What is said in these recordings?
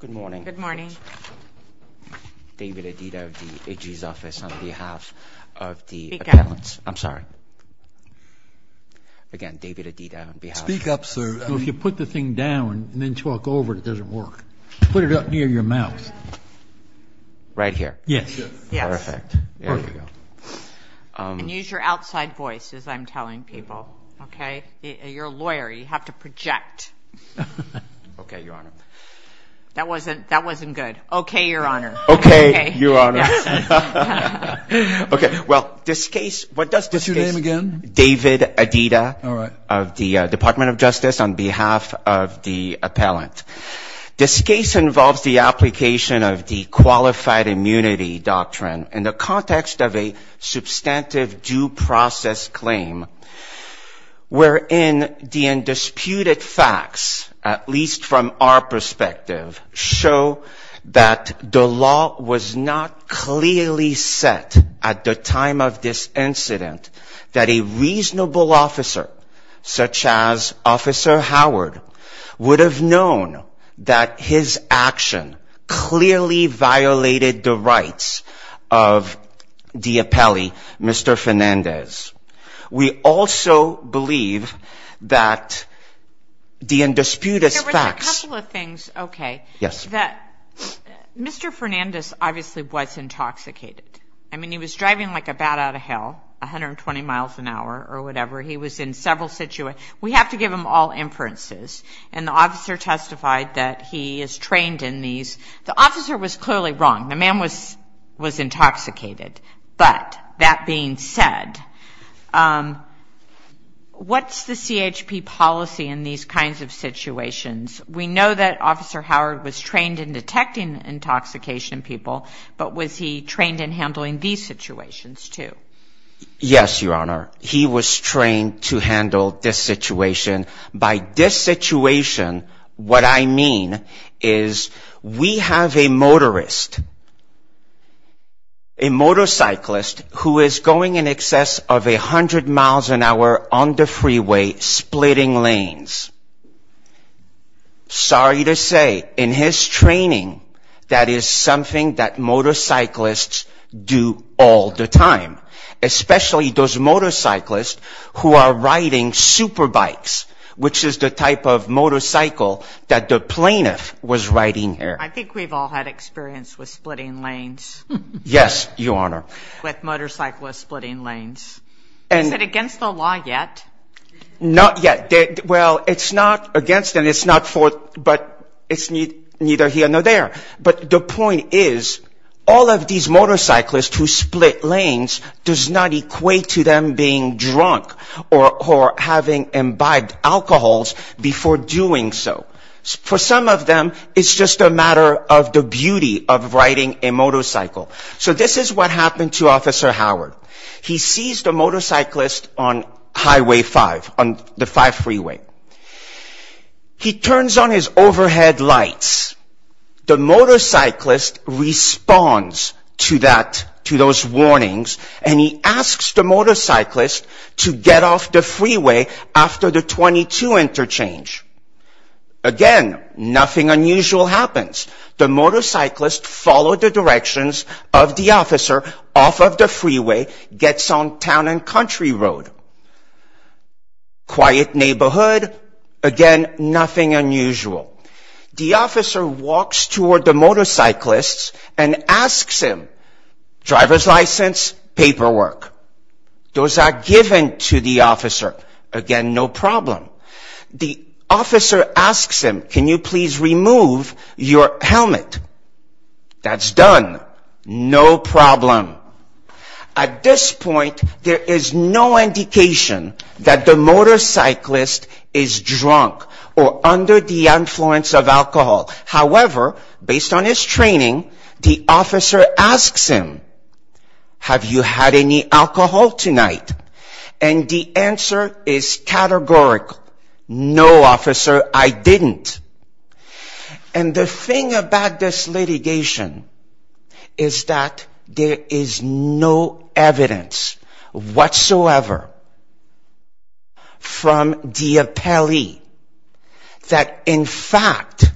Good morning. David Adida of the AG's office on behalf of the appellants. I'm sorry. Again, David Adida on behalf. Speak up sir. If you put the thing down and then chalk over it, it doesn't work. Put it up near your mouth. Right here. Yes. Perfect. And use your outside voice as I'm telling people. Okay. You're a lawyer. You have to project. Okay, your honor. That wasn't, that wasn't good. Okay, your honor. Okay, your honor. Okay. Well, this case, what does this case? What's your name again? David Adida. All right. Of the Department of Justice on behalf of the appellant. This case involves the application of the qualified immunity doctrine in the context of a substantive due process claim wherein the undisputed facts, at least from our perspective, show that the law was not clearly set at the time of this incident that a reasonable officer such as Officer Howard would have known that his action clearly violated the rights of the appellee, Mr. Fernandez. We also believe that the undisputed facts. There was a couple of things. Okay. Yes. Mr. Fernandez obviously was intoxicated. I mean, he was driving like a bat out of hell, 120 miles an hour or whatever. He was in several situations. We have to give him all inferences. And the officer testified that he is trained in these. The officer was clearly wrong. The man was intoxicated. But that being said, what's the CHP policy in these kinds of situations? We know that Officer Howard was trained in detecting intoxication people, but was he trained in handling these situations too? Yes, your honor. He was trained in handling these situations. By this situation, what I mean is we have a motorist, a motorcyclist who is going in excess of 100 miles an hour on the freeway splitting lanes. Sorry to say, in his training, that is something that motorcyclists do all the time, especially those motorcyclists who are riding super bikes, which is the type of motorcycle that the plaintiff was riding there. I think we've all had experience with splitting lanes. Yes, your honor. With motorcyclists splitting lanes. Is it against the law yet? Not yet. Well, it's not against and it's not for, but it's neither here nor there. But the point is, all of these motorcyclists who split lanes does not equate to them being drunk or having imbibed alcohols before doing so. For some of them, it's just a matter of the beauty of riding a motorcycle. So this is what happened to Officer Howard. He sees the motorcyclist on Highway 5, on the 5 freeway. He turns on his overhead lights. The motorcyclist responds to that, to those warnings, and he asks the motorcyclist to get off the freeway after the 22 interchange. Again, nothing unusual happens. The motorcyclist followed the directions of the officer off of the freeway, gets on town and country road. Quiet neighborhood. Again, nothing unusual. The officer walks toward the motorcyclist and asks him, driver's license, paperwork. Those are given to the officer. Again, no problem. The officer asks him, can you please remove your helmet? That's done. No problem. At this point, there is no indication that the motorcyclist is drunk or under the influence of alcohol. However, based on his training, the officer asks him, have you had any alcohol tonight? And the thing about this litigation is that there is no evidence whatsoever from the appellee that in fact,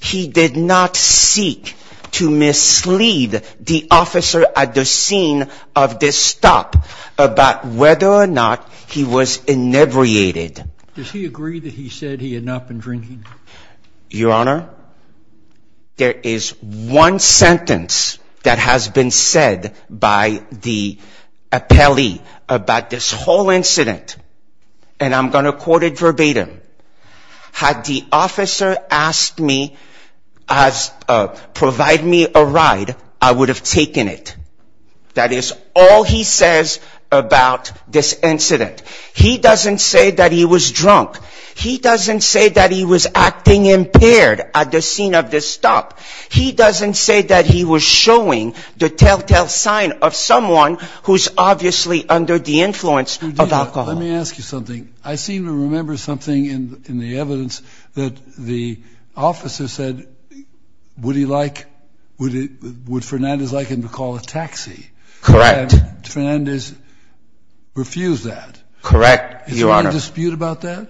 he did not seek to mislead the officer at the scene of this stop about whether or not he was inebriated. Does he agree that he said he had not been drinking? Your Honor, there is one sentence that has been said by the appellee about this whole incident and I'm going to quote it verbatim. Had the officer asked me, provided me a ride, I would have taken it. That is all he says about this incident. He doesn't say that he was drunk. He doesn't say that he was acting impaired at the scene of this stop. He doesn't say that he was showing the telltale sign of someone who is obviously under the influence of alcohol. Let me ask you something. I seem to remember something in the evidence that the officer said would he like, would Fernandez like him to call a taxi? Correct. Fernandez refused that. Correct, Your Honor. Is there a dispute about that?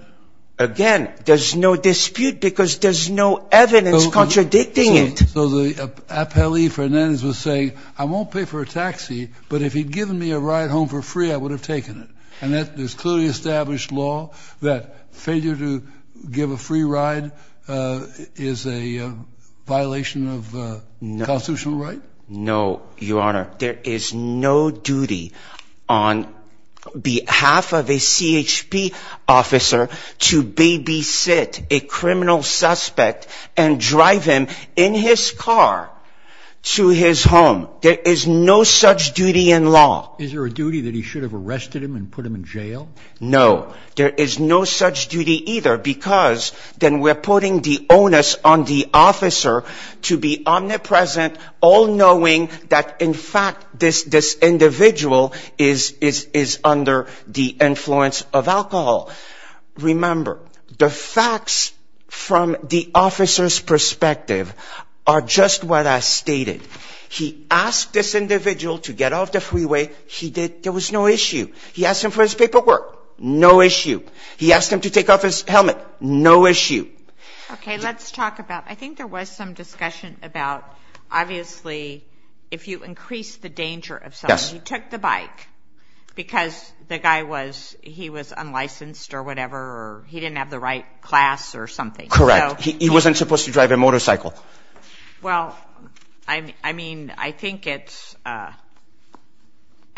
Again, there's no dispute because there's no evidence contradicting it. So the appellee Fernandez was saying, I won't pay for a taxi, but if he'd given me a ride home for free, I would have taken it. And that there's clearly established law that failure to give a free ride is a violation of constitutional right? No, Your Honor. There is no duty on behalf of a CHP officer to babysit a criminal suspect and drive him in his car to his home. There is no such duty in law. Is there a duty that he should have arrested him and put him in jail? No. There is no such duty either because then we're putting the onus on the officer to be omnipresent, all knowing that in fact this individual is under the influence of alcohol. Remember, the facts from the officer's perspective are just what I stated. He asked this individual to get off the freeway. He did. There was no issue. He asked him for his paperwork. No issue. He asked him to take off his helmet. No issue. Okay, let's talk about, I think there was some discussion about, obviously, if you increase the danger of someone, you took the bike because the guy was, he was unlicensed or whatever or he didn't have the right class or something. Correct. He wasn't supposed to drive a motorcycle. Well, I mean, I think it's, I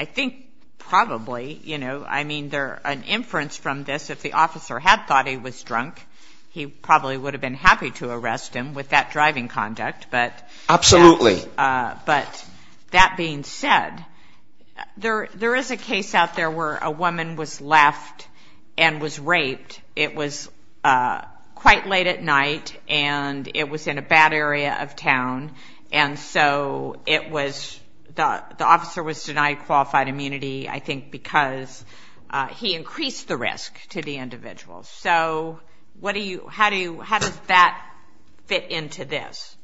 think probably, you know, I mean, there, an inference from this, if the officer had thought he was drunk, he probably would have been happy to arrest him with that driving conduct, but... Absolutely. But that being said, there, there is a case out there where a woman was left and was raped. It was quite late at night and it was in a bad area of town and so it was, the officer was denied qualified immunity, I think, because he increased the risk to the individual. So what do you, how do you, how does that fit into this?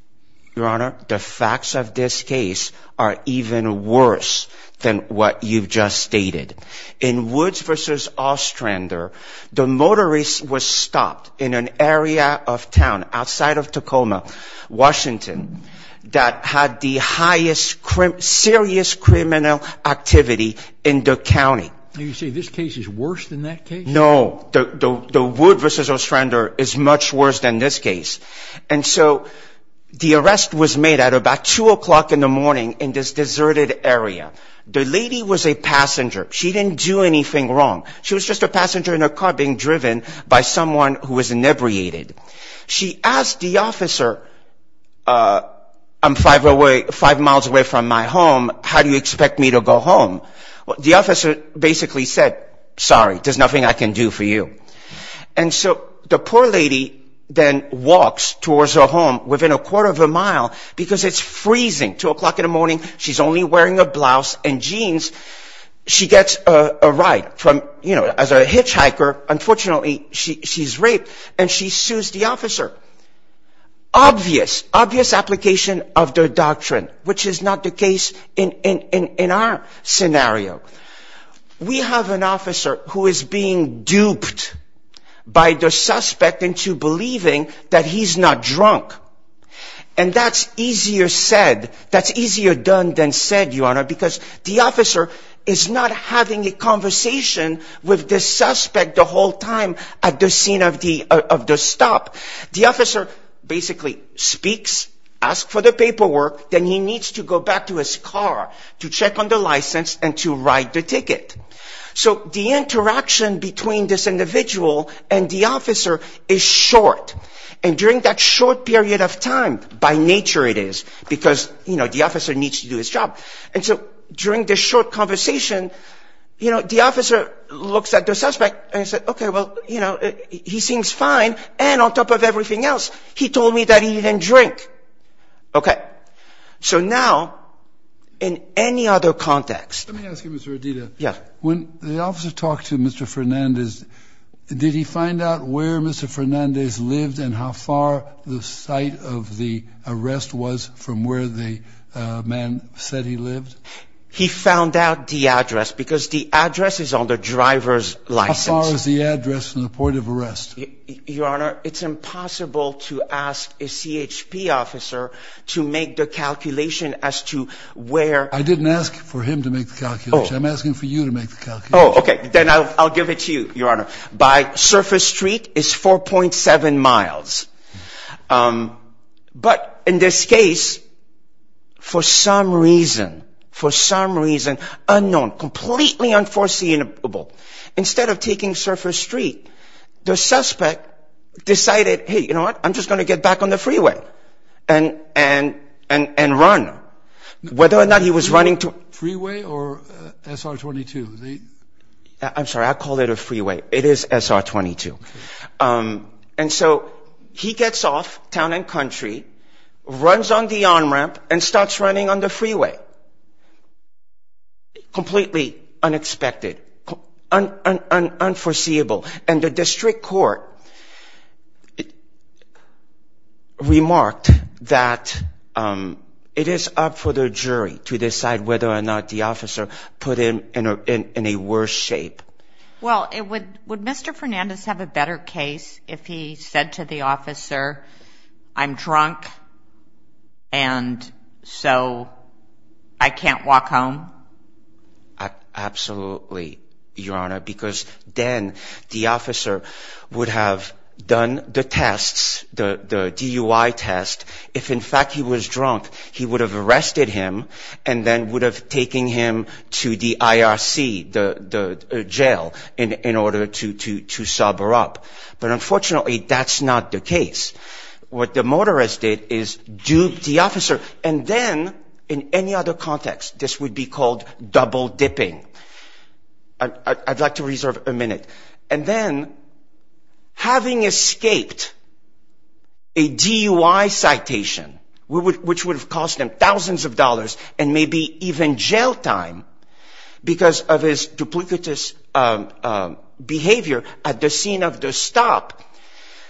Your Honor, the facts of this case are even worse than what you've just stated. In Woods versus Ostrander, the motorist was stopped in an area of town outside of Tacoma, Washington, that had the highest serious criminal activity in the county. You say this case is worse than that case? No. The Woods versus Ostrander is much worse than this case. And so the arrest was made at about 2 o'clock in the morning in this deserted area. The lady was a passenger. She didn't do anything wrong. She was just a passenger in a car being driven by someone who was inebriated. She asked the officer, I'm five miles away from my home, how do you expect me to go home? The officer basically said, sorry, there's nothing I can do for you. And so the poor lady then walks towards her home within a quarter of a mile because it's freezing, 2 o'clock in the morning, she's only wearing a blouse and jeans. She gets a ride. As a hitchhiker, unfortunately, she's raped and she sues the officer. Obvious application of the doctrine, which is not the case in our scenario. We have an officer who is being duped by the suspect into believing that he's not drunk. And that's easier said, that's easier done than said, Your Honor, because the officer is not having a conversation with the suspect the whole time at the scene of the stop. The officer basically speaks, asks for the paperwork, then he needs to go back to his car to check on the license and to write the ticket. So the interaction between this individual and the officer is short. And during that short period of time, by nature it is, because the officer needs to do his job. And so during this short conversation, the officer looks at the suspect and says, okay, well, he seems fine and on top of everything else, he told me that he didn't drink. Okay. So now, in any other context... Let me ask you, Mr. Adida. When the officer talked to Mr. Fernandez, did he find out where Mr. Fernandez lived and how far the site of the arrest was from where the man said he lived? He found out the address, because the address is on the driver's license. How far is the address from the point of arrest? Your Honor, it's impossible to ask a CHP officer to make the calculation as to where... I didn't ask for him to make the calculation. I'm asking for you to make the calculation. Oh, okay. Then I'll give it to you, Your Honor. By surface street, it's 4.7 miles. But in this case, for some reason, for some reason, unknown, completely unforeseeable, instead of taking surface street, the suspect decided, hey, you know what? I'm just going to get back on the freeway and run. Whether or not he was running to... Freeway or SR-22? I'm sorry. I'll call it a freeway. It is SR-22. And so he gets off town and country, runs on the on-ramp, and starts running on the freeway. Completely unexpected, unforeseeable. And the district court remarked that it is up for the jury to decide whether or not to let the officer put him in a worse shape. Well, would Mr. Fernandez have a better case if he said to the officer, I'm drunk and so I can't walk home? Absolutely, Your Honor, because then the officer would have done the tests, the DUI test. If in fact he was drunk, he would have arrested him and then would have taken him to the IRC, the jail, in order to sober up. But unfortunately, that's not the case. What the motorist did is dupe the officer and then, in any other context, this would be called double-dipping. I'd like to reserve a minute. And then, having escaped a DUI citation, having escaped a DUI citation, which would have cost him thousands of dollars and maybe even jail time because of his duplicitous behavior at the scene of the stop,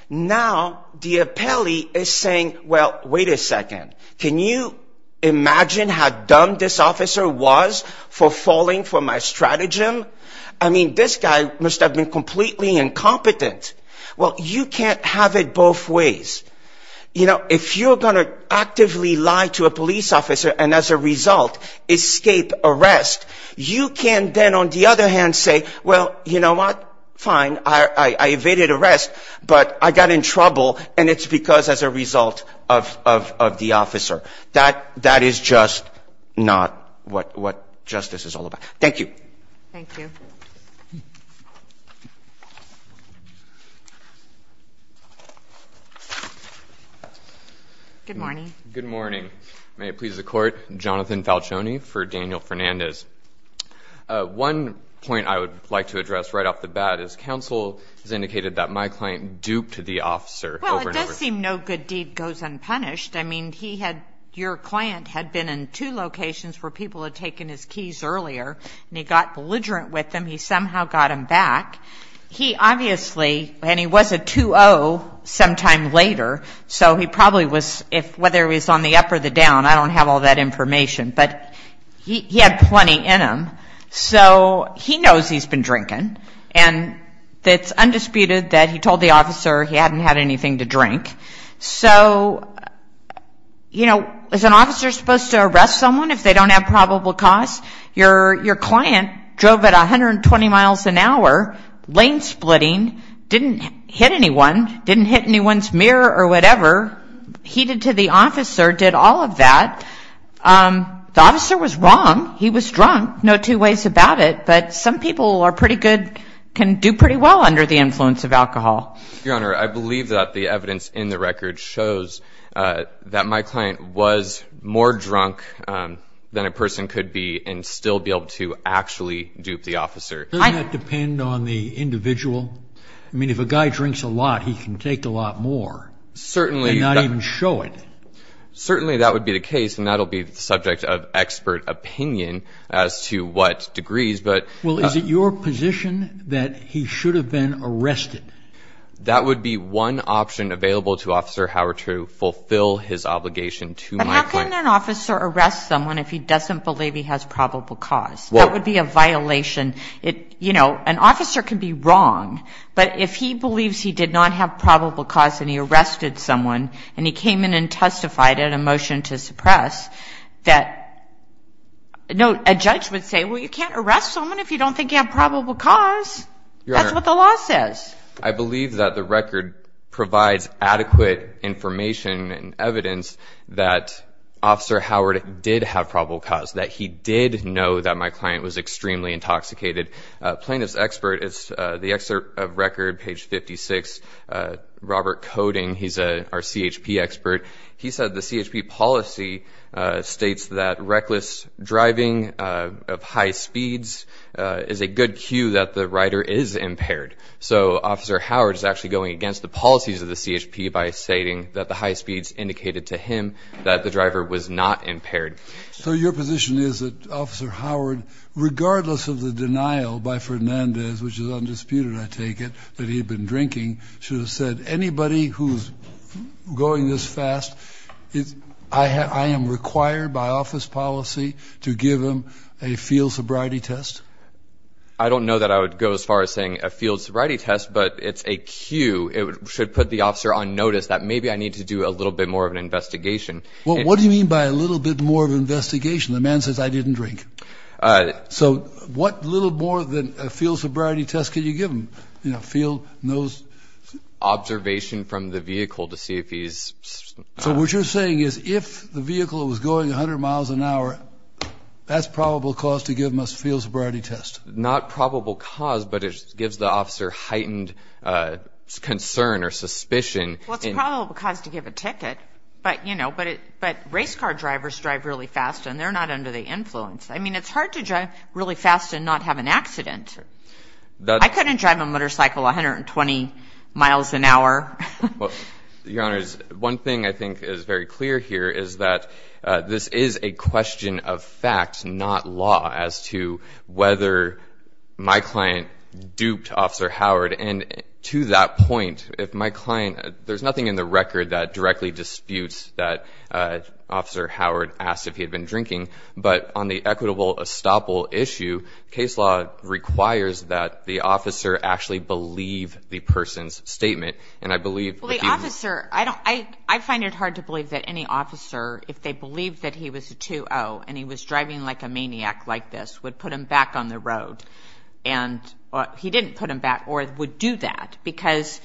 now the appellee is saying, well, wait a second, can you imagine how dumb this officer was for falling for my stratagem? I mean, this guy must have been completely incompetent. Well, you can't have it both ways. You know, if you're going to actively lie to a police officer and as a result escape arrest, you can then, on the other hand, say, well, you know what, fine, I evaded arrest, but I got in trouble and it's because as a result of the officer. That is just not what justice is all about. Thank you. Good morning. Good morning. May it please the Court, Jonathan Falcioni for Daniel Fernandez. One point I would like to address right off the bat is counsel has indicated that my client duped the officer over and over. Well, it does seem no good deed goes unpunished. I mean, he had, your client had been in two locations where people had taken his keys earlier and he got belligerent with them. He somehow got them back. He obviously, and he was a 2-0 sometime later, so he probably was, whether he was on the up or the down, I don't have all that information, but he had plenty in him. So he knows he's been drinking and it's undisputed that he told the officer he hadn't had anything to drink. So, you know, is an officer supposed to arrest someone if they don't have probable cause? Your client drove at 120 miles an hour, lane splitting, didn't hit anyone, didn't hit anyone's mirror or whatever. He did to the officer, did all of that. The officer was wrong. He was drunk. No two ways about it. But some people are pretty good, can do pretty well under the influence of alcohol. Your Honor, I believe that the evidence in the record shows that my client was more drunk than a person could be and still be able to actually dupe the officer. Doesn't that depend on the individual? I mean, if a guy drinks a lot, he can take a lot more and not even show it. Certainly that would be the case, and that would be the subject of expert opinion as to what degrees, but... Well, is it your position that he should have been arrested? That would be one option available to Officer Howard to fulfill his obligation to my client. Can an officer arrest someone if he doesn't believe he has probable cause? That would be a violation. An officer can be wrong, but if he believes he did not have probable cause and he arrested someone and he came in and testified in a motion to suppress, that... A judge would say, well, you can't arrest someone if you don't think you have probable cause. That's what the law says. I believe that the record provides adequate information and evidence that Officer Howard did have probable cause, that he did know that my client was extremely intoxicated. Plaintiff's expert, it's the excerpt of record, page 56, Robert Coding. He's our CHP expert. He said the CHP policy states that reckless driving of high speeds is a good cue that the rider is impaired. So Officer Howard is actually going against the policies of the CHP by stating that the high speeds indicated to him that the driver was not impaired. So your position is that Officer Howard, regardless of the denial by Fernandez, which is undisputed, I take it, that he had been drinking, should have said, anybody who's going this fast, I am required by office policy to give him a field sobriety test? I don't know that I would go as far as saying a field sobriety test, but it's a cue. It should put the officer on notice that maybe I need to do a little bit more of an investigation. What do you mean by a little bit more of an investigation? The man says, I didn't drink. So what little more than a field sobriety test can you give him? Field nose observation from the vehicle to see if he's... So what you're saying is if the vehicle was going 100 miles an hour, that's probable cause to give him a field sobriety test? Not probable cause, but it gives the officer heightened concern or suspicion. Well, it's probable cause to give a ticket, but race car drivers drive really fast and they're not under the influence. I mean, it's hard to drive really fast and not have an accident. I couldn't drive a motorcycle 120 miles an hour. Well, Your Honors, one thing I think is very clear here is that this is a question of fact, not law, as to whether my client duped Officer Howard. And to that point, if my client... There's nothing in the record that directly disputes that Officer Howard asked if he had been drinking, but on the equitable estoppel issue, case law requires that the officer actually believe the person's statement. And I believe... Well, the officer... I find it hard to believe that any officer, if they believed that he was a 2-0 and he was driving like a maniac like this, would put him back on the road. He didn't put him back or would do that, because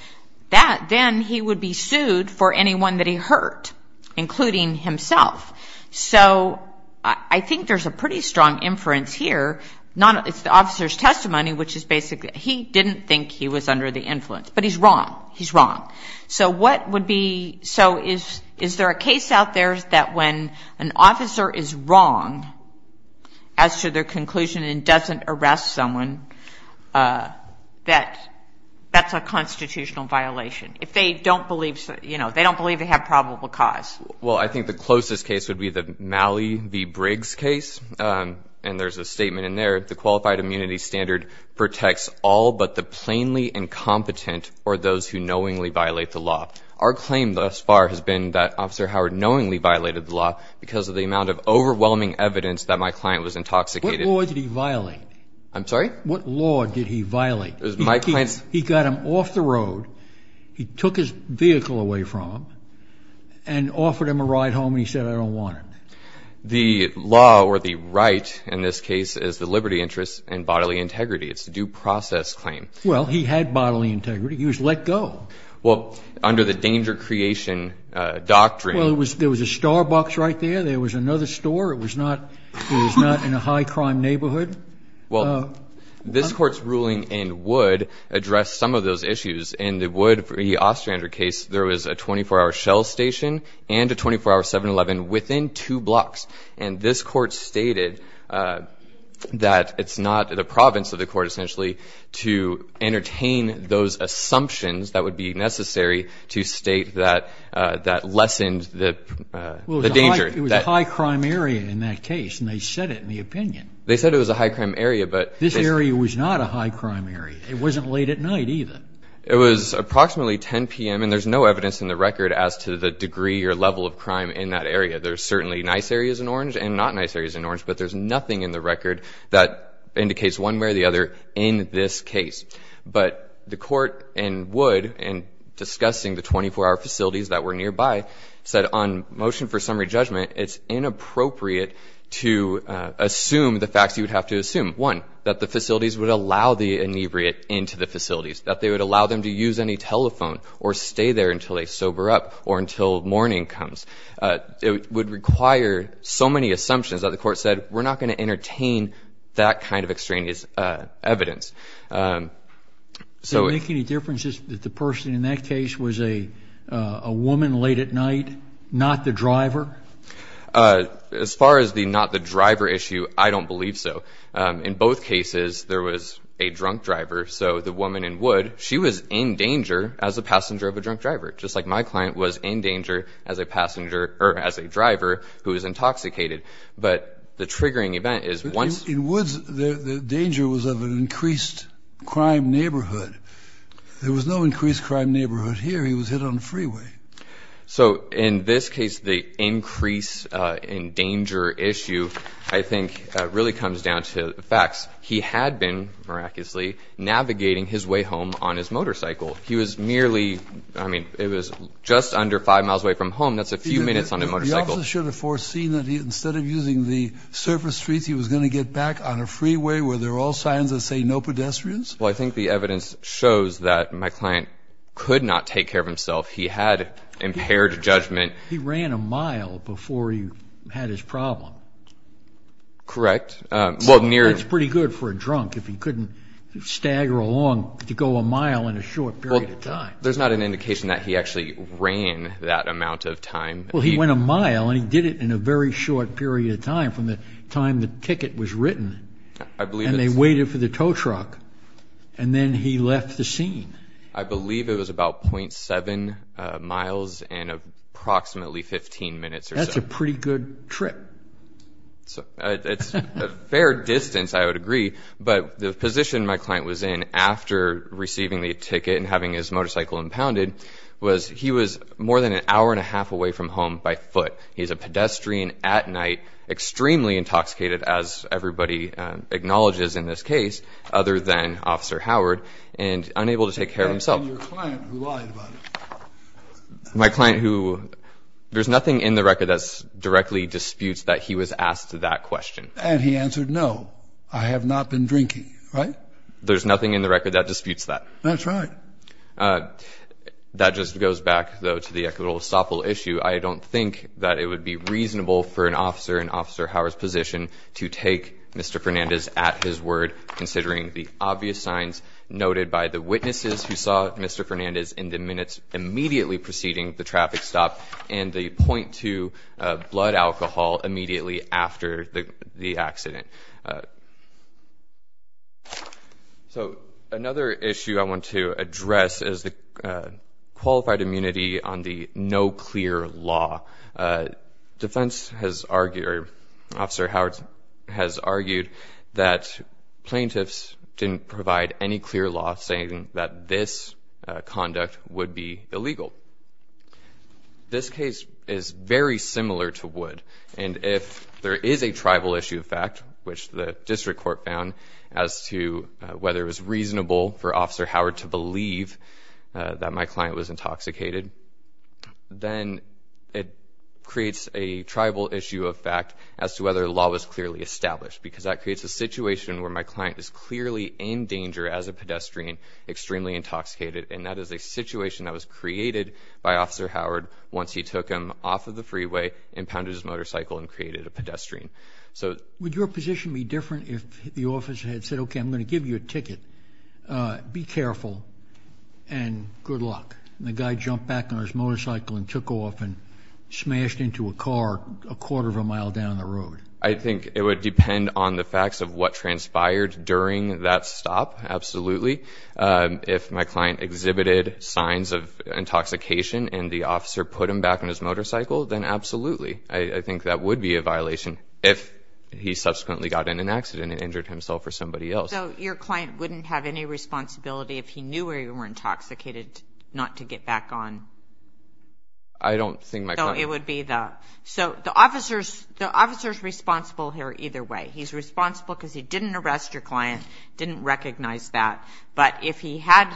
then he would be sued for anyone that he hurt, including himself. So I think there's a pretty strong inference here. It's the officer's testimony, which is basically, he didn't think he was under the influence, but he's wrong. He's wrong. So what would be... So is there a case out there that when an officer is wrong as to their conclusion and doesn't arrest someone, that that's a constitutional violation? If they don't believe, you know, they don't believe they have probable cause? Well, I think the closest case would be the Mallee v. Briggs case. And there's a statement in there, the qualified immunity standard protects all but the plainly incompetent or those who knowingly violate the law. Our claim thus far has been that Officer Howard knowingly violated the law because of the amount of overwhelming evidence that my client was intoxicated... What law did he violate? I'm sorry? What law did he violate? It was my client's... He got him off the road, he took his vehicle away from him, and offered him a ride home and he said, I don't want it. The law or the right in this case is the liberty interest and bodily integrity. It's a due process claim. Well, he had bodily integrity. He was let go. Well, under the danger creation doctrine... Well, there was a Starbucks right there. There was another store. It was not in a high-crime neighborhood. Well, this Court's ruling in Wood addressed some of those issues. In the Wood v. Ostrander case, there was a 24-hour shell station and a 24-hour 7-Eleven within two blocks. And this Court stated that it's not the province of the Court, essentially, to entertain those assumptions that would be necessary to state that lessened the danger. Well, it was a high-crime area in that case, and they said it in the opinion. They said it was a high-crime area, but... This area was not a high-crime area. It wasn't late at night, either. It was approximately 10 p.m., and there's no evidence in the record as to the degree or level of crime in that area. There's certainly nice areas in Orange and not-nice areas in Orange, but there's nothing in the record that indicates one way or the other in this case. But the Court in Wood, in discussing the 24-hour facilities that were nearby, said on motion for summary judgment, it's inappropriate to assume the facts you would have to assume. One, that the facilities would allow the inebriate into the facilities, that they would allow them to use any telephone or stay there until they sober up or until morning comes. It would require so many assumptions that the Court said, we're not going to entertain that kind of extraneous evidence. Does it make any difference that the person in that case was a woman late at night, not the driver? As far as the not the driver issue, I don't believe so. In both cases, there was a drunk driver, so the woman in Wood, she was in danger as a passenger of a drunk driver, just like my client was in danger as a passenger, or as a driver, who was intoxicated. But the triggering event is once... In Woods, the danger was of an increased crime neighborhood. There was no increased crime neighborhood here. He was hit on the freeway. So in this case, the increase in danger issue, I think, really comes down to the facts. He had been, miraculously, navigating his way home on his motorcycle. He was merely, I mean, it was just under five miles away from home. That's a few minutes on a motorcycle. The officer should have foreseen that instead of using the surface streets, he was going to get back on a freeway where there are all signs that say no pedestrians? Well, I think the evidence shows that my client could not take care of himself. He had impaired judgment. He ran a mile before he had his problem. Correct. That's pretty good for a drunk, if he couldn't stagger along to go a mile in a short period of time. There's not an indication that he actually ran that amount of time. Well, he went a mile, and he did it in a very short period of time, from the time the ticket was written. And they waited for the tow truck. And then he left the scene. I believe it was about .7 miles and approximately 15 minutes or so. That's a pretty good trip. It's a fair distance, I would agree. But the position my client was in after receiving the ticket and having his motorcycle impounded was he was more than an hour and a half away from home by foot. He's a pedestrian at night, extremely intoxicated, as everybody acknowledges in this case, other than Officer Howard, and unable to take care of himself. And your client, who lied about it? My client, who, there's nothing in the record that directly disputes that he was asked that question. And he answered, no, I have not been drinking, right? There's nothing in the record that disputes that. That's right. That just goes back, though, to the equitable estoppel issue. I don't think that it would be reasonable for an officer in Officer Howard's position to take Mr. Fernandez at his word, considering the obvious signs noted by the witnesses who saw Mr. Fernandez in the minutes immediately preceding the traffic stop and the point to blood alcohol immediately after the accident. So another issue I want to address is the qualified immunity on the no clear law. Defense has argued, or Officer Howard has argued, that plaintiffs didn't provide any clear law saying that this conduct would be illegal. This case is very similar to Wood. And if there is a tribal issue of fact, which the district court found, as to whether it was reasonable for Officer Howard to believe that my client was intoxicated, then it creates a tribal issue of fact as to whether the law was clearly established, because that creates a situation where my client is clearly in danger as a pedestrian, extremely intoxicated, and that is a situation that was created by Officer Howard once he took him off of the freeway and pounded his motorcycle and created a pedestrian. Would your position be different if the officer had said, OK, I'm going to give you a ticket, be careful, and good luck, and the guy jumped back on his motorcycle and took off and smashed into a car a quarter of a mile down the road? I think it would depend on the facts of what transpired during that stop, absolutely. If my client exhibited signs of intoxication and the officer put him back on his motorcycle, then absolutely. I think that would be a violation if he subsequently got in an accident and injured himself or somebody else. So your client wouldn't have any responsibility if he knew where you were intoxicated not to get back on? I don't think my client... So it would be the... So the officer's responsible here either way. He's responsible because he didn't arrest your client, didn't recognize that, but if he had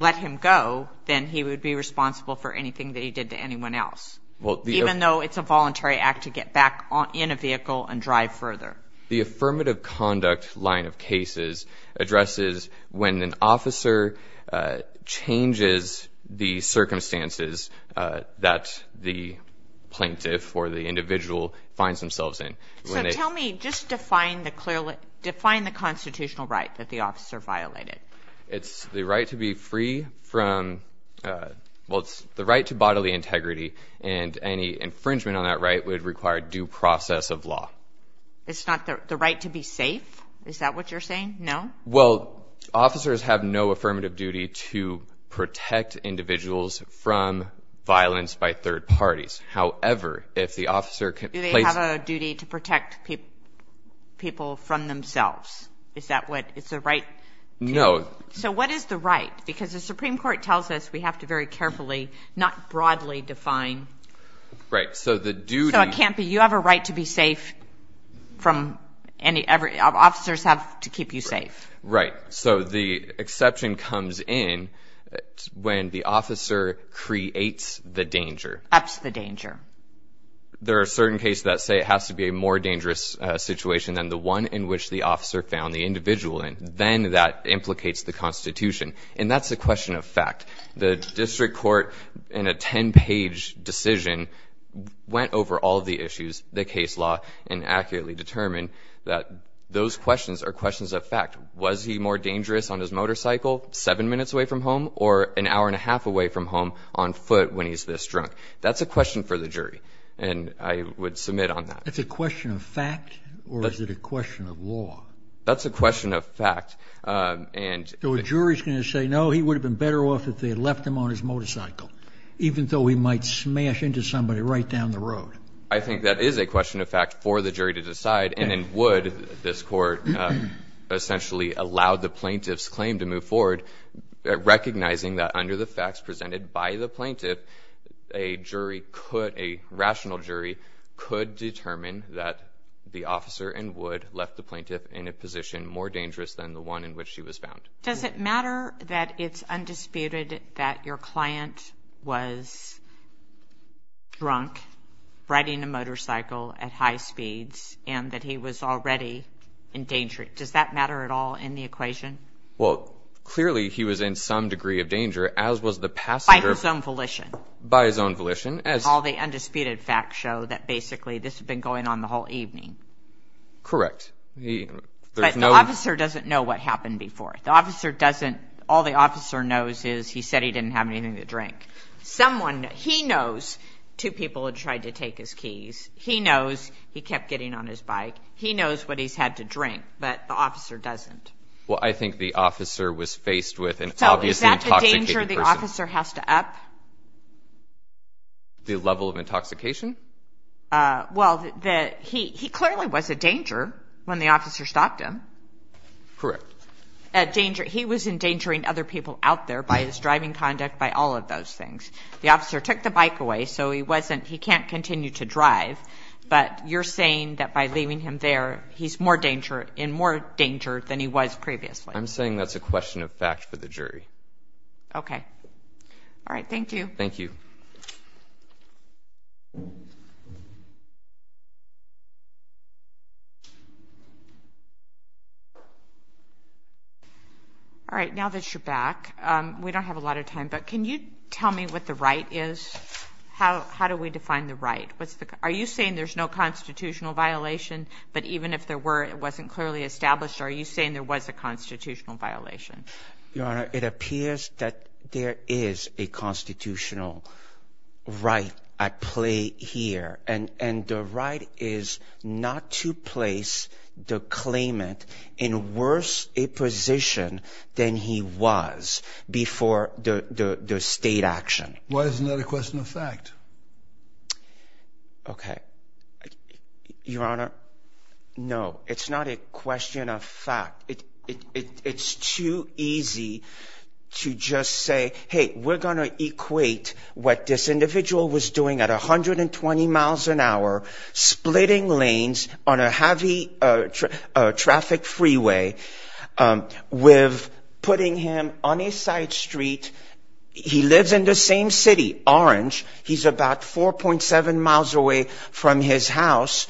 let him go, then he would be responsible for anything that he did to anyone else, even though it's a voluntary act to get back in a vehicle and drive further. The affirmative conduct line of cases addresses when an officer changes the circumstances that the plaintiff or the individual finds themselves in. So tell me, just define the constitutional right that the officer violated. It's the right to be free from... Well, it's the right to bodily integrity, and any infringement on that right would require due process of law. It's not the right to be safe? Is that what you're saying? No? Well, officers have no affirmative duty to protect individuals from violence by third parties. However, if the officer can place... Do they have a duty to protect people from themselves? Is that what... It's the right... No. So what is the right? Because the Supreme Court tells us we have to very carefully, not broadly define... Right. So the duty... So it can't be, you have a right to be safe from any... Officers have to keep you safe. Right. So the exception comes in when the officer creates the danger. Ups the danger. There are certain cases that say it has to be a more dangerous situation than the one in which the officer found the individual in. Then that implicates the Constitution. And that's a question of fact. The district court, in a 10-page decision, went over all the issues, the case law, and accurately determined that those questions are questions of fact. Was he more dangerous on his motorcycle, seven minutes away from home, or an hour and a half away from home on foot when he's this drunk? That's a question for the jury, and I would submit on that. That's a question of fact, or is it a question of law? That's a question of fact, and... So a jury's going to say, no, he would have been better off if they had left him on his motorcycle, even though he might smash into somebody right down the road. I think that is a question of fact for the jury to decide, and in Wood, this court essentially allowed the plaintiff's claim to move forward, recognizing that under the facts presented by the plaintiff, a jury could... A rational jury could determine that the officer in Wood left the plaintiff in a position more dangerous than the one in which she was found. Does it matter that it's undisputed that your client was drunk, riding a motorcycle at high speeds, and that he was already in danger? Does that matter at all in the equation? Well, clearly he was in some degree of danger, as was the passenger... By his own volition. By his own volition, as... All the undisputed facts show that basically this had been going on the whole evening. Correct. But the officer doesn't know what happened before. The officer doesn't... All the officer knows is he said he didn't have anything to drink. Someone... He knows two people had tried to take his keys. He knows he kept getting on his bike. He knows what he's had to drink, but the officer doesn't. Well, I think the officer was faced with an obviously intoxicated person. So is that the danger the officer has to up? The level of intoxication? Well, he clearly was a danger when the officer stopped him. Correct. A danger... He was endangering other people out there by his driving conduct, by all of those things. The officer took the bike away, so he wasn't... He can't continue to drive, but you're saying that by leaving him there, he's more danger... In more danger than he was previously. I'm saying that's a question of fact for the jury. Okay. All right. Thank you. Thank you. All right. Now that you're back, we don't have a lot of time, but can you tell me what the right is? How do we define the right? Are you saying there's no constitutional violation, but even if there were, it wasn't clearly established? Are you saying there was a constitutional violation? Your Honor, it appears that there is a constitutional right at play here, and the right is not to place the claimant in worse a position than he was before the state action. Why isn't that a question of fact? Okay. Your Honor, no, it's not a question of fact. It's too easy to just say, hey, we're going to equate what this individual was doing at 120 miles an hour, splitting lanes on a heavy traffic freeway, with putting him on a side street. He lives in the same city, Orange. He's about 4.7 miles away from his house.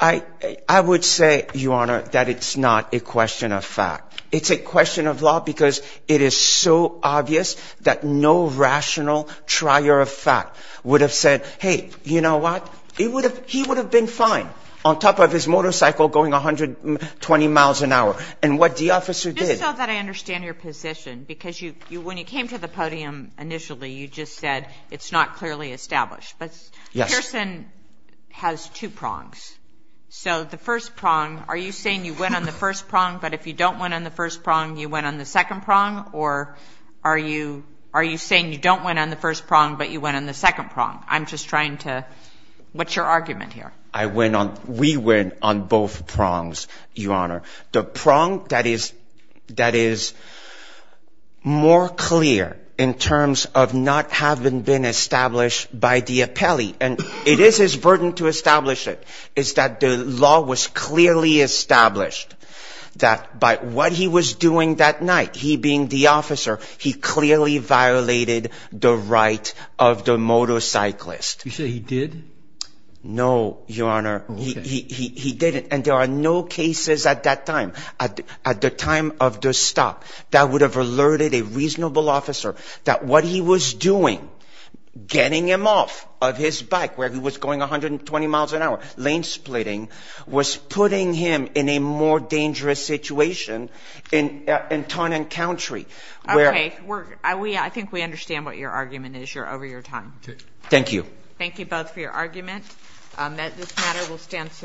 I would say, Your Honor, that it's not a question of fact. It's a question of law because it is so obvious that no rational trier of fact would have said, hey, you know what? He would have been fine on top of his motorcycle going 120 miles an hour. And what the officer did I understand your position because when you came to the podium initially, you just said it's not clearly established. But Pearson has two prongs. So the first prong, are you saying you went on the first prong, but if you don't went on the first prong, you went on the second prong? Or are you saying you don't went on the first prong, but you went on the second prong? I'm just trying to, what's your argument here? I went on, we went on both prongs, Your Honor. The prong that is more clear in terms of not having been established by the appellee, and it is his burden to establish it, is that the law was clearly established that by what he was doing that night, he being the officer, he clearly violated the right of the motorcyclist. You say he did? No, Your Honor. He didn't. And there are no cases at that time, at the time of the stop, that would have alerted a reasonable officer that what he was doing, getting him off of his bike where he was going 120 miles an hour, lane splitting, was putting him in a more dangerous situation in town and country. Okay, I think we understand what your argument is. You're over your time. Thank you. Thank you both for your argument. This matter will stand.